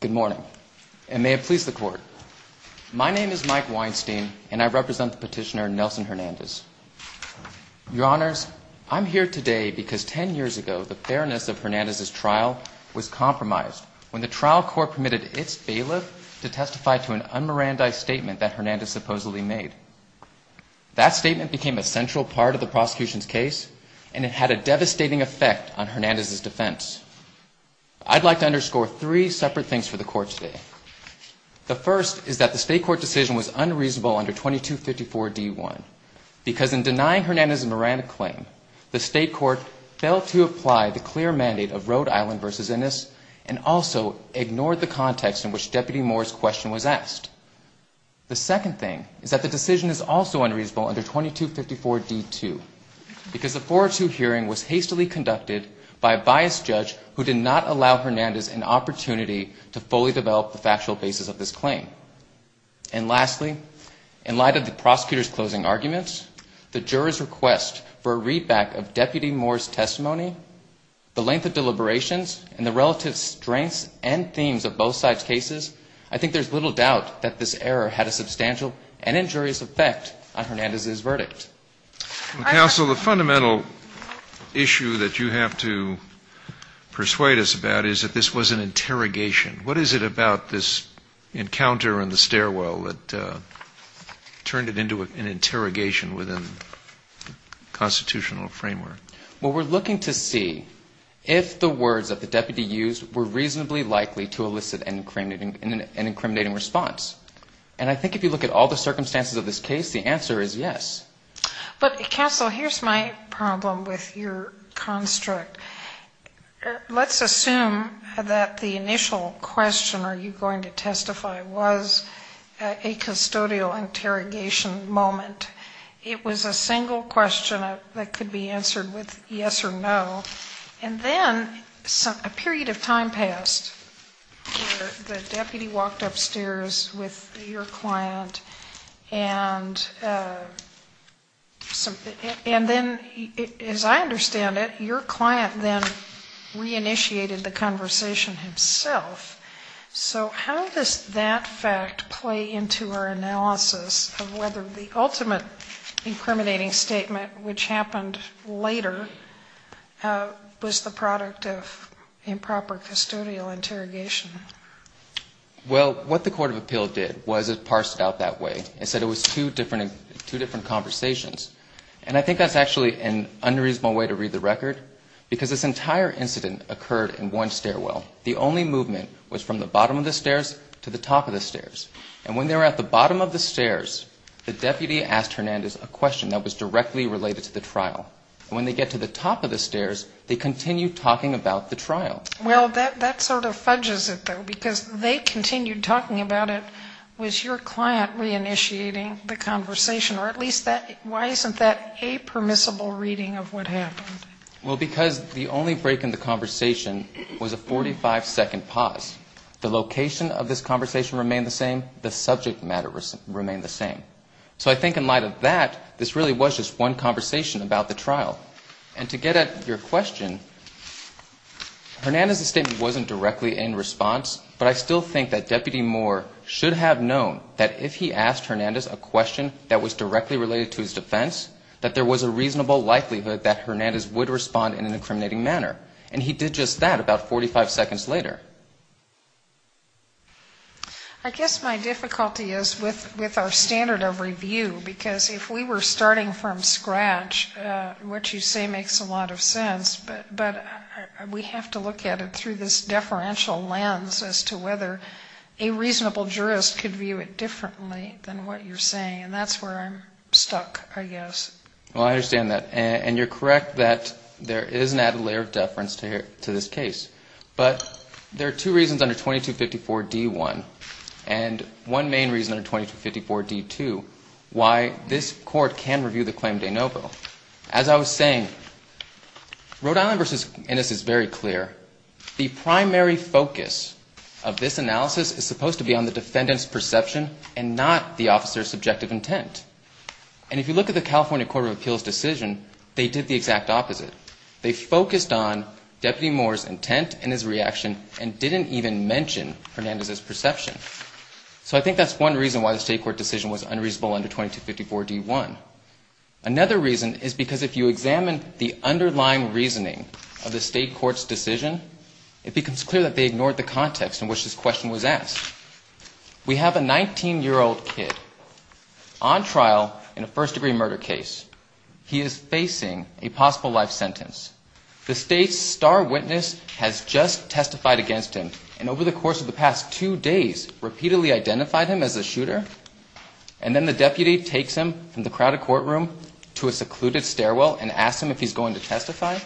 Good morning, and may it please the court. My name is Mike Weinstein, and I represent the petitioner Nelson Hernandez. Your Honors, I'm here today because 10 years ago the fairness of Hernandez's trial was compromised when the trial court permitted its bailiff to testify to an un-Mirandi statement that Hernandez supposedly made. That statement became a central part of the prosecution's case, and it had a devastating effect on Hernandez's defense. I'd like to underscore three separate things for the court today. The first is that the state court decision was unreasonable under 2254-D1, because in denying Hernandez's Miranda claim, the state court failed to apply the clear mandate of Rhode Island v. Innis and also ignored the context in which Deputy Moore's question was asked. The second thing is that the decision is also unreasonable under 2254-D2, because the 4-2 hearing was hastily conducted by a biased judge who did not allow Hernandez an opportunity to fully develop the factual basis of this claim. And lastly, in light of the prosecutor's closing arguments, the juror's request for a readback of Deputy Moore's testimony, the length of deliberations, and the relative strengths and themes of both sides' cases, I think there's little doubt that this error had a substantial and injurious effect on Hernandez's verdict. The fundamental issue that you have to persuade us about is that this was an interrogation. What is it about this encounter in the stairwell that turned it into an interrogation within constitutional framework? Well, we're looking to see if the words that the deputy used were reasonably likely to elicit an incriminating response. And I think if you look at all the circumstances of this case, the answer is yes. But, Castle, here's my problem with your construct. Let's assume that the initial question, are you going to testify, was a custodial interrogation moment. It was a single question that could be answered with yes or no. And then a period of time passed where the deputy walked upstairs with your client and then, as I understand it, your client then reinitiated the conversation himself. So how does that fact play into our analysis of whether the ultimate incriminating statement, which happened later, was the product of improper custodial interrogation? Well, what the Court of Appeal did was it parsed it out that way and said it was two different conversations. And I think that's actually an unreasonable way to read the record, because this entire incident occurred in one stairwell. The only movement was from the bottom of the stairs to the top of the stairs. And when they were at the bottom of the stairs, the deputy asked Hernandez a question that was directly related to the trial. And when they get to the top of the stairs, they continue talking about the trial. Well, that sort of fudges it, though, because they continued talking about it. Was your client reinitiating the conversation, or at least that why isn't that a permissible reading of what happened? Well, because the only break in the conversation was a 45-second pause. The location of this conversation remained the same, the subject matter remained the same. So I think in light of that, this really was just one conversation about the trial. And to get at your question, Hernandez's statement wasn't directly in response, but I still think that Deputy Moore should have known that if he asked Hernandez a question that was directly related to his defense, that there was a reasonable likelihood that Hernandez would respond in an incriminating manner. And he did just that about 45 seconds later. I guess my difficulty is with our standard of review, because if we were starting from scratch, what you say makes a lot of sense, but we have to look at it through this deferential lens as to whether a reasonable jurist could view it differently than what you're saying. And that's where I'm stuck, I guess. Well, I understand that. And you're correct that there is an added layer of deference to this case. But there are two reasons under 2254 D-1 and one main reason under 2254 D-2 why this Court can review the claim of De Novo. As I was saying, Rhode Island v. Innis is very clear. The primary focus of this analysis is supposed to be on the defendant's perception and not the officer's subjective intent. And if you look at the California Court of Appeals decision, they did the exact opposite. They focused on Deputy Moore's intent and his reaction and didn't even mention Hernandez's perception. So I think that's one reason why the State Court decision was unreasonable under 2254 D-1. Another reason is because if you examine the underlying reasoning of the State Court's decision, it becomes clear that they ignored the context in which this question was asked. We have a 19-year-old kid on trial in a first-degree murder case. He is facing a possible life sentence. The State's star witness has just testified against him and over the course of the past two days, repeatedly identified him as a shooter. And then the deputy takes him from the crowded courtroom to a secluded stairwell and asks him if he's going to testify.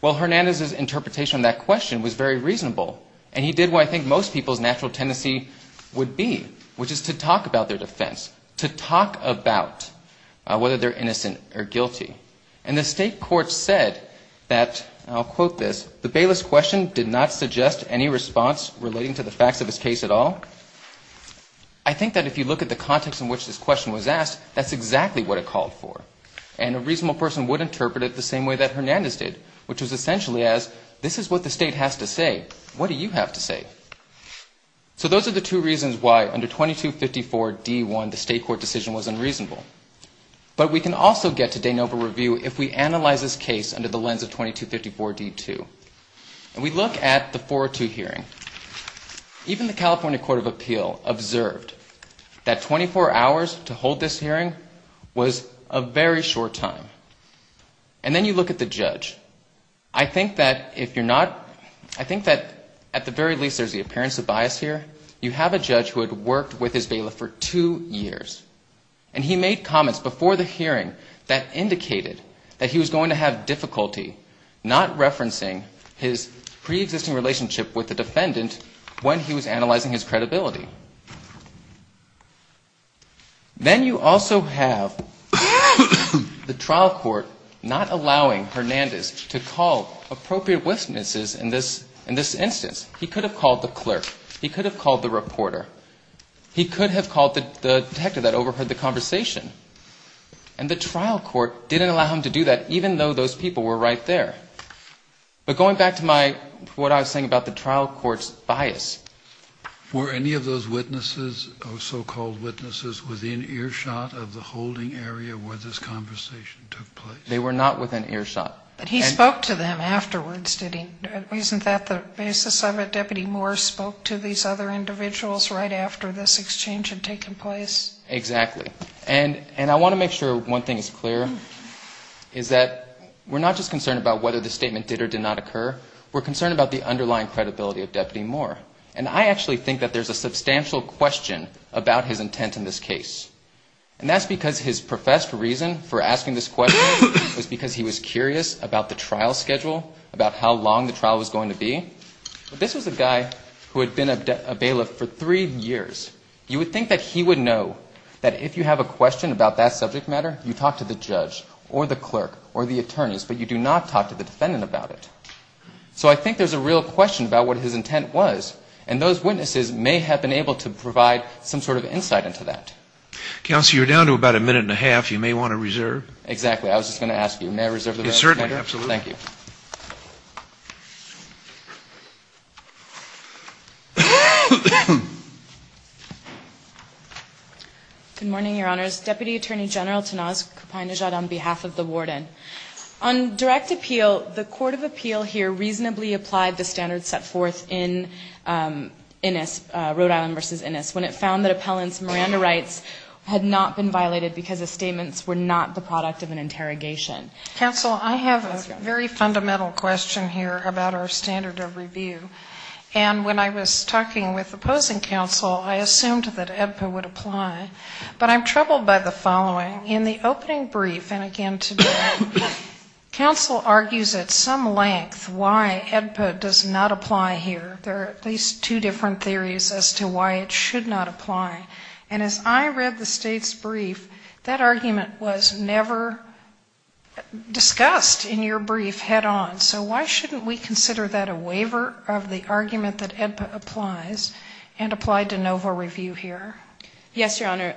Well, Hernandez's interpretation of that question was very reasonable. And he did what I think most people's natural tendency would be, which is to talk about their defense, to talk about whether they're innocent or guilty. And the State Court said that, and I'll quote this, the bailiff's question did not suggest any response relating to the facts of his case at all. I think that if you look at the context in which this question was asked, that's exactly what it called for. And a reasonable person would interpret it the same way that Hernandez did, which was essentially as, this is what the State has to say. What do you have to say? So those are the two reasons why under 2254 D-1 the State Court decision was unreasonable. But we can also get to de novo review if we analyze this case under the lens of 2254 D-2. And we look at the 402 hearing. Even the California Court of Appeal observed that 24 hours to hold this hearing was a very short time. And then you look at the judge. I think that if you're not, I think that at the very least there's the appearance of bias here. You have a judge who had worked with his bailiff for two years. And he made comments before the hearing that indicated that he was going to have difficulty not referencing his preexisting relationship with the defendant when he was analyzing his credibility. Then you also have the trial court not allowing Hernandez to call appropriate witnesses in this instance. He could have called the clerk. He could have called the reporter. He could have called the detective that overheard the conversation. And the trial court didn't allow him to do that even though those people were right there. But going back to my, what I was saying about the trial court's bias. Were any of those witnesses, so-called witnesses, within earshot of the holding area where this conversation took place? They were not within earshot. But he spoke to them afterwards, didn't he? Isn't that the basis of it? Deputy Moore spoke to these other individuals right after this exchange had taken place? Exactly. And I want to make sure one thing is clear, is that we're not just concerned about whether the statement did or did not occur. We're concerned about the underlying credibility of Deputy Moore. And I actually think that there's a substantial question about his intent in this case. And that's because his professed reason for asking this question was because he was curious about the trial schedule, about how long the trial was going to be. But this was a guy who had been a bailiff for three years. You would think that he would know that if you have a question about that subject matter, you talk to the judge or the clerk or the attorneys, but you do not talk to the defendant about it. So I think there's a real question about what his intent was. And those witnesses may have been able to provide some sort of insight into that. Counsel, you're down to about a minute and a half. You may want to reserve. Exactly. I was just going to ask you. May I reserve the rest of my time? Yes, certainly. Absolutely. Thank you. Good morning, Your Honors. Deputy Attorney General Tenaz Kapindijat on behalf of the warden. On direct appeal, the court of appeal here reasonably applied the standards set forth in Innis, Rhode Island v. Innis. When it found that appellants' Miranda rights had not been violated because the statements were not the product of an interrogation. Counsel, I have a very fundamental question here about our standard of review. And when I was talking with opposing counsel, I assumed that AEDPA would apply. But I'm troubled by the following. In the opening brief, and again today, counsel argues at some length why AEDPA does not apply here. There are at least two different theories as to why it should not apply. And as I read the state's brief, that argument was never discussed in your brief head on. So why shouldn't we consider that a waiver of the argument that AEDPA applies and apply de novo review here? Yes, Your Honor.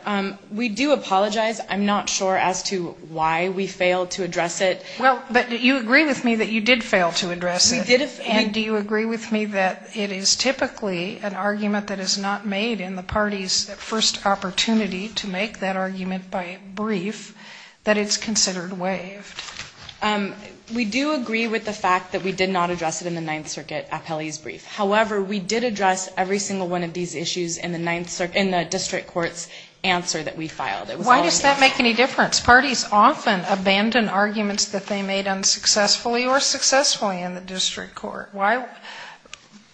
We do apologize. I'm not sure as to why we failed to address it. Well, but you agree with me that you did fail to address it. We did. And do you agree with me that it is typically an argument that is not made in the party's first opportunity to make that argument by brief that it's considered waived? We do agree with the fact that we did not address it in the Ninth Circuit appellee's brief. However, we did address every single one of these issues in the district court's answer that we filed. Why does that make any difference? Because parties often abandon arguments that they made unsuccessfully or successfully in the district court. Why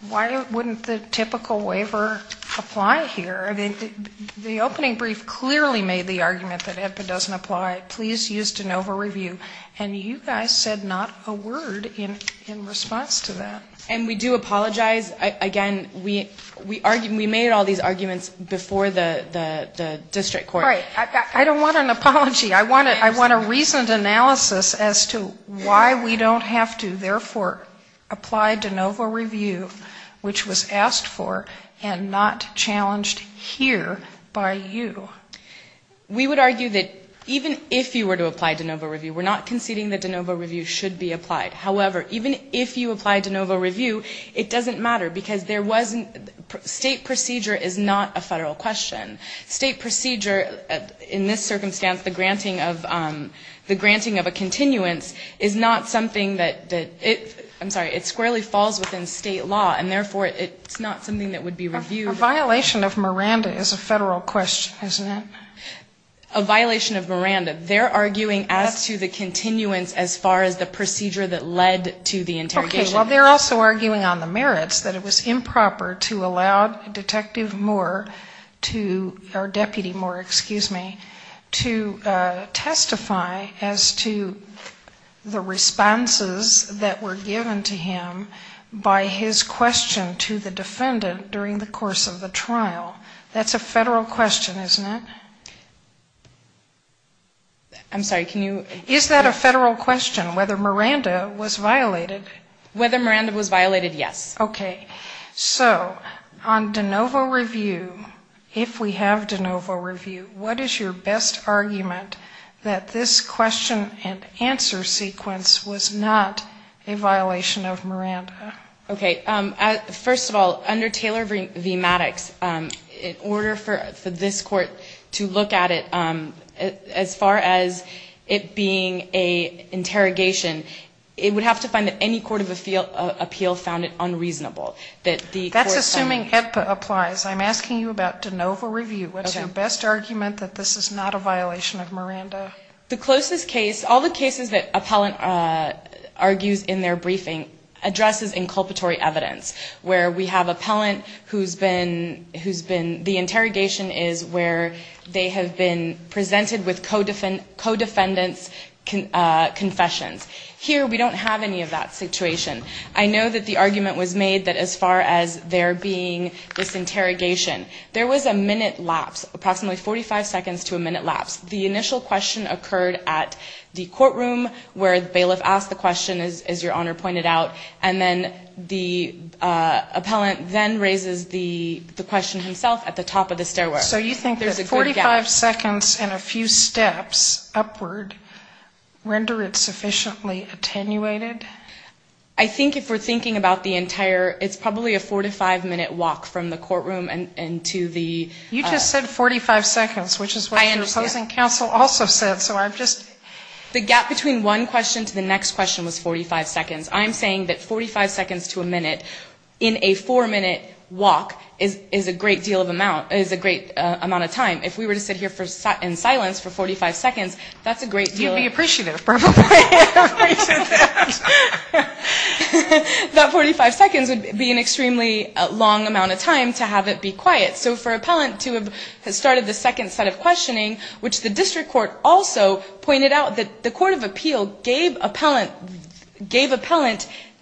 wouldn't the typical waiver apply here? I mean, the opening brief clearly made the argument that AEDPA doesn't apply. Please use de novo review. And you guys said not a word in response to that. And we do apologize. Again, we made all these arguments before the district court. I don't want an apology. I want a reasoned analysis as to why we don't have to, therefore, apply de novo review, which was asked for and not challenged here by you. We would argue that even if you were to apply de novo review, we're not conceding that de novo review should be applied. However, even if you apply de novo review, it doesn't matter. Because state procedure is not a federal question. State procedure, in this circumstance, the granting of a continuance is not something that, I'm sorry, it squarely falls within state law. And, therefore, it's not something that would be reviewed. A violation of Miranda is a federal question, isn't it? A violation of Miranda. They're arguing as to the continuance as far as the procedure that led to the interrogation. Well, they're also arguing on the merits that it was improper to allow Detective Moore to, or Deputy Moore, excuse me, to testify as to the responses that were given to him by his question to the defendant during the course of the trial. That's a federal question, isn't it? I'm sorry, can you? Is that a federal question, whether Miranda was violated? Whether Miranda was violated, yes. Okay. So on de novo review, if we have de novo review, what is your best argument that this question and answer sequence was not a violation of Miranda? Okay. First of all, under Taylor v. Maddox, in order for this Court to look at it as far as it being an interrogation, it would have to find that any court of appeal found it unreasonable. That's assuming HIPAA applies. I'm asking you about de novo review. What's your best argument that this is not a violation of Miranda? The closest case, all the cases that appellant argues in their briefing addresses inculpatory evidence, where we have appellant who's been, the interrogation is where they have been presented with co-defendant's confessions. Here, we don't have any of that situation. I know that the argument was made that as far as there being this interrogation, there was a minute lapse, approximately 45 seconds to a minute lapse. The initial question occurred at the courtroom where bailiff asked the question, as your Honor pointed out, and then the appellant then raises the question himself at the top of the stairwell. So you think that 45 seconds and a few steps upward render it sufficiently attenuated? I think if we're thinking about the entire, it's probably a 45-minute walk from the courtroom and to the... You just said 45 seconds, which is what your opposing counsel also said, so I'm just... The gap between one question to the next question was 45 seconds. I'm saying that 45 seconds to a minute in a four-minute walk is a great deal of amount. If we were to sit here in silence for 45 seconds, that's a great deal of... You'd be appreciative, probably. That 45 seconds would be an extremely long amount of time to have it be quiet. So for appellant to have started the second set of questioning, which the district court also pointed out that the court of appeal gave appellant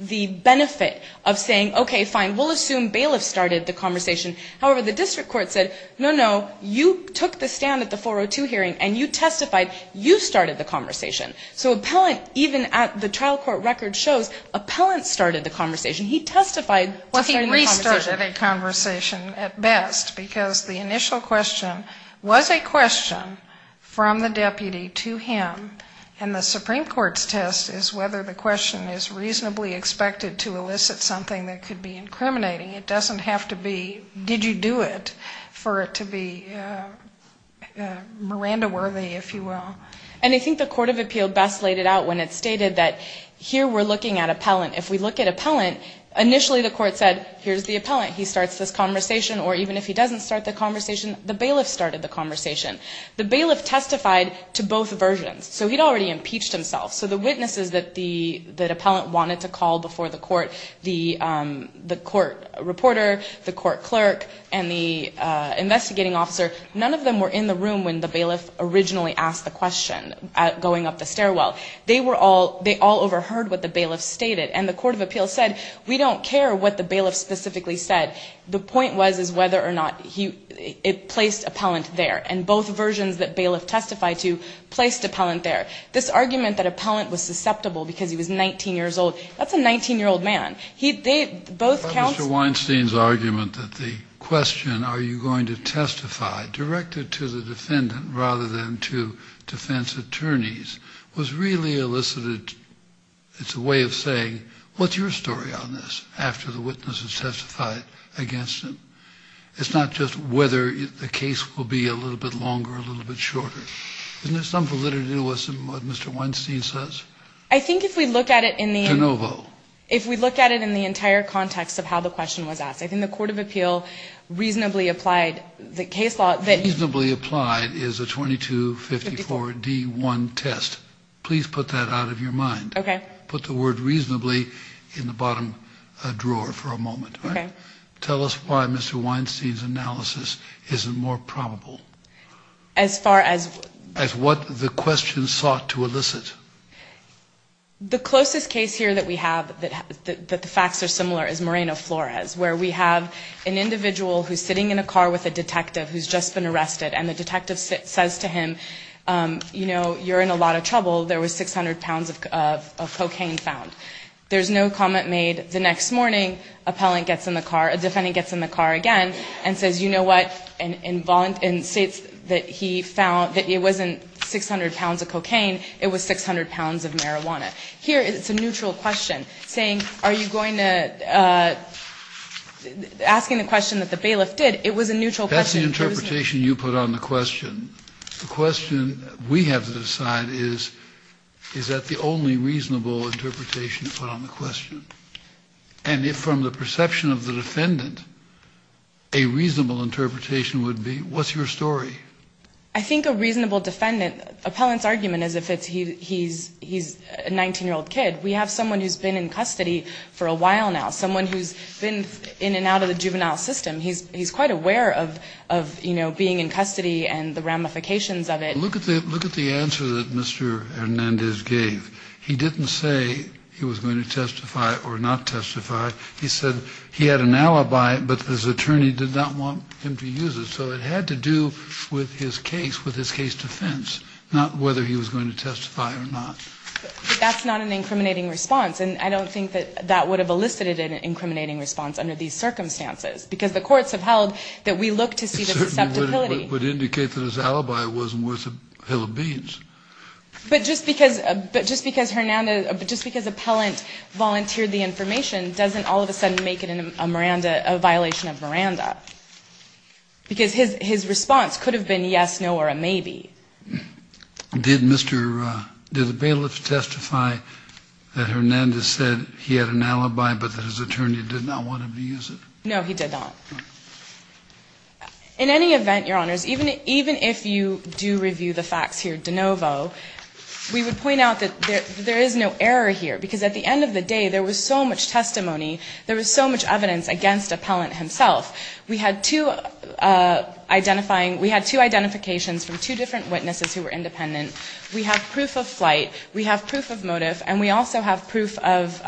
the benefit of saying, okay, fine, we'll assume Bailiff started the conversation. However, the district court said, no, no, you took the stand at the 402 hearing and you testified, you started the conversation. So appellant, even at the trial court record shows, appellant started the conversation. He testified to starting the conversation. Well, he restarted a conversation at best, because the initial question was a question from the deputy to him, and the Supreme Court's test is whether the question is reasonably expected to elicit something that could be incriminating. It doesn't have to be, did you do it, for it to be Miranda worthy, if you will. And I think the court of appeal best laid it out when it stated that here we're looking at appellant. If we look at appellant, initially the court said, here's the appellant, he starts this conversation. Or even if he doesn't start the conversation, the bailiff started the conversation. The bailiff testified to both versions. So he'd already impeached himself. So the witnesses that the appellant wanted to call before the court, the court reporter, the court clerk, and the investigating officer, none of them were in the room when the bailiff originally asked the question going up the stairwell. They were all, they all overheard what the bailiff stated, and the court of appeal said, we don't care what the bailiff specifically said. The point was, is whether or not he placed appellant there. And both versions that bailiff testified to placed appellant there. This argument that appellant was susceptible because he was 19 years old, that's a 19-year-old man. He, they, both counts. Mr. Weinstein's argument that the question, are you going to testify, directed to the defendant rather than to defense attorneys, was really elicited, it's a way of saying, what's your story on this, after the witness has testified against him? It's not just whether the case will be a little bit longer or a little bit shorter. Isn't there some validity to what Mr. Weinstein says? I think if we look at it in the entire context of how the question was asked, I think the court of appeal reasonably applied the case law. Reasonably applied is a 2254-D1 test. Please put that out of your mind. Put the word reasonably in the bottom drawer for a moment. Tell us why Mr. Weinstein's analysis isn't more probable. As far as what the question sought to elicit. The closest case here that we have that the facts are similar is Moreno Flores, where we have an individual who's sitting in a car with a detective who's just been arrested, and the detective says to him, you know, you're in a lot of trouble. There was 600 pounds of cocaine found. There's no comment made the next morning. A defendant gets in the car again and says, you know what, in states that he found that it wasn't 600 pounds of cocaine, it was 600 pounds of marijuana. Here it's a neutral question, saying are you going to, asking the question that the bailiff did, it was a neutral question. That's the interpretation you put on the question. The question we have to decide is, is that the only reasonable interpretation to put on the question? And if from the perception of the defendant, a reasonable interpretation would be, what's your story? I think a reasonable defendant, appellant's argument is if he's a 19-year-old kid. We have someone who's been in custody for a while now, someone who's been in and out of the juvenile system. He's quite aware of, you know, being in custody and the ramifications of it. Look at the answer that Mr. Hernandez gave. He didn't say he was going to testify or not testify. He said he had an alibi, but his attorney did not want him to use it. So it had to do with his case, with his case defense, not whether he was going to testify or not. But that's not an incriminating response, and I don't think that that would have elicited an incriminating response under these circumstances. Because the courts have held that we look to see the susceptibility. It certainly would indicate that his alibi wasn't worth a hill of beans. But just because appellant volunteered the information doesn't all of a sudden make it a violation of Miranda. Because his response could have been yes, no, or a maybe. Did the bailiff testify that Hernandez said he had an alibi, but that his attorney did not want him to use it? No, he did not. In any event, Your Honors, even if you do review the facts here de novo, we would point out that there is no error here. Because at the end of the day, there was so much testimony, there was so much evidence against appellant himself. We had two identifying, we had two identifications from two different witnesses who were independent. We have proof of flight, we have proof of motive, and we also have proof of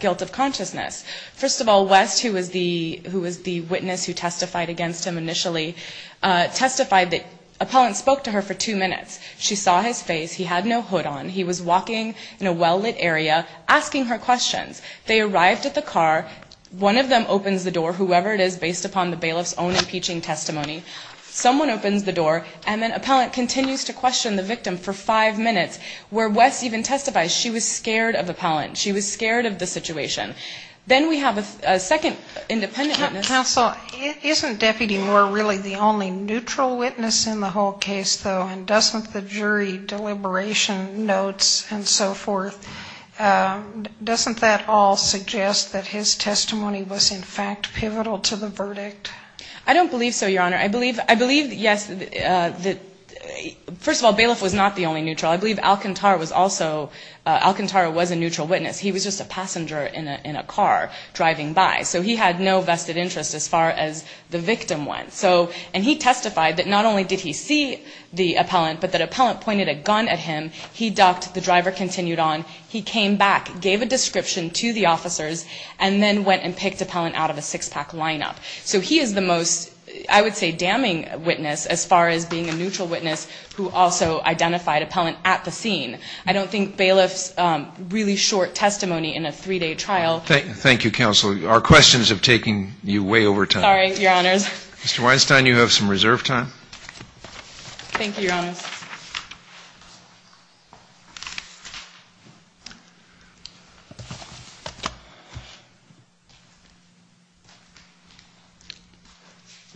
guilt of consciousness. First of all, West, who was the witness who testified against him initially, testified that appellant spoke to her for two minutes. She saw his face, he had no hood on, he was walking in a well-lit area, asking her questions. They arrived at the car, one of them opens the door, whoever it is, based upon the bailiff's own impeaching testimony. Someone opens the door, and then appellant continues to question the victim for five minutes. Where West even testified, she was scared of appellant, she was scared of the situation. Then we have a second independent witness. Counsel, isn't Deputy Moore really the only neutral witness in the whole case, though? And doesn't the jury deliberation notes and so forth, doesn't that all suggest that his testimony was in fact pivotal to the verdict? I don't believe so, Your Honor. I believe, yes, first of all, bailiff was not the only neutral. I believe Alcantara was also, Alcantara was a neutral witness. He was just a passenger in a car driving by, so he had no vested interest as far as the victim went. And he testified that not only did he see the appellant, but that appellant pointed a gun at him, he ducked, the driver continued on, he came back, gave a description to the officers, and then went and picked appellant out of a six-pack lineup. So he is the most, I would say, damning witness as far as being a neutral witness who also identified appellant at the scene. I don't think bailiff's really short testimony in a three-day trial. Thank you, Counsel. Our questions have taken you way over time. Sorry, Your Honors. Mr. Weinstein, you have some reserve time. Thank you, Your Honors.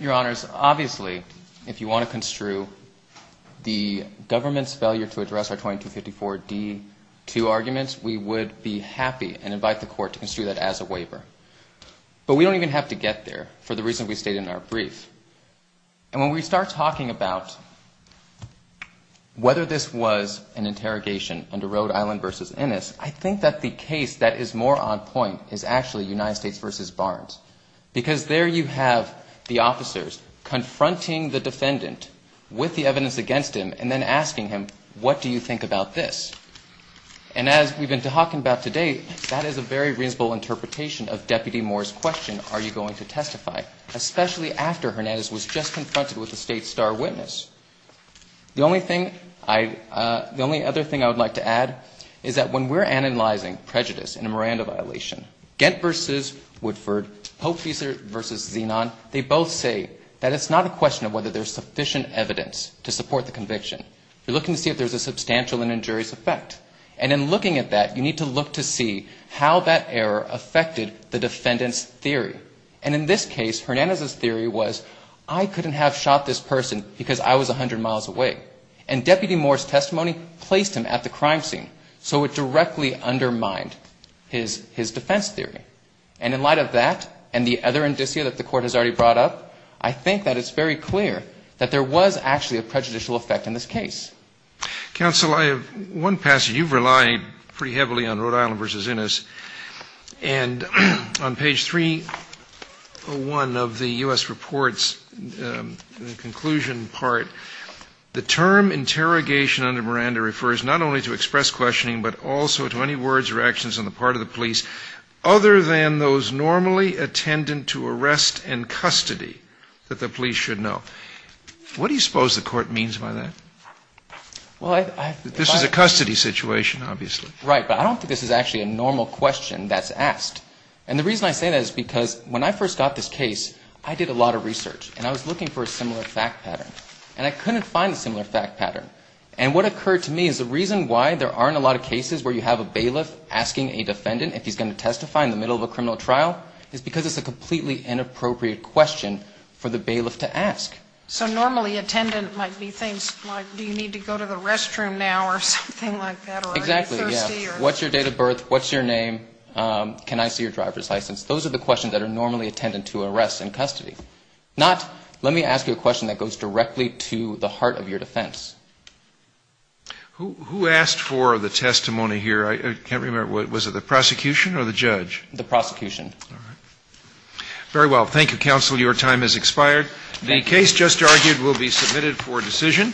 Your Honors, obviously, if you want to construe the government's failure to address our 2255 case, we would be happy and invite the Court to construe that as a waiver. But we don't even have to get there for the reason we stated in our brief. And when we start talking about whether this was an interrogation under Rhode Island v. Innis, I think that the case that is more on point is actually United States v. Barnes. Because there you have the officers confronting the defendant with the evidence against him and then asking him, what do you think about this? And as we've been talking about today, that is a very reasonable interpretation of Deputy Moore's question, are you going to testify, especially after Hernandez was just confronted with a state star witness. The only thing I the only other thing I would like to add is that when we're analyzing prejudice in a Miranda violation, Gantt v. Woodford, Pope v. Zenon, they both say that it's not a question of whether there's sufficient evidence to support the conviction. You're looking to see if there's a substantial and injurious effect. And in looking at that, you need to look to see how that error affected the defendant's theory. And in this case, Hernandez's theory was I couldn't have shot this person because I was 100 miles away. And Deputy Moore's testimony placed him at the crime scene. So it directly undermined his defense theory. And in light of that and the other indicia that the Court has already brought up, I think that it's very clear that there was actually a prejudicial effect in this case. Counsel, I have one passage. You've relied pretty heavily on Rhode Island v. Innis. And on page 301 of the U.S. report's conclusion part, the term interrogation under Miranda refers not only to express those normally attendant to arrest and custody that the police should know. What do you suppose the Court means by that? This is a custody situation, obviously. Right, but I don't think this is actually a normal question that's asked. And the reason I say that is because when I first got this case, I did a lot of research. And I was looking for a similar fact pattern. And I couldn't find a similar fact pattern. And what occurred to me is the reason why there aren't a lot of cases where you have a bailiff asking a defendant if he's going to testify in the middle of a criminal trial is because it's a completely inappropriate question for the bailiff to ask. So normally attendant might be things like, do you need to go to the restroom now or something like that? Exactly, yeah. Are you thirsty? What's your date of birth? What's your name? Can I see your driver's license? Those are the questions that are normally attendant to arrest and custody. Not, let me ask you a question that goes directly to the heart of your defense. Who asked for the testimony here? I can't remember. Was it the prosecution or the judge? The prosecution. All right. Very well. Thank you, counsel. Your time has expired. The case just argued will be submitted for decision.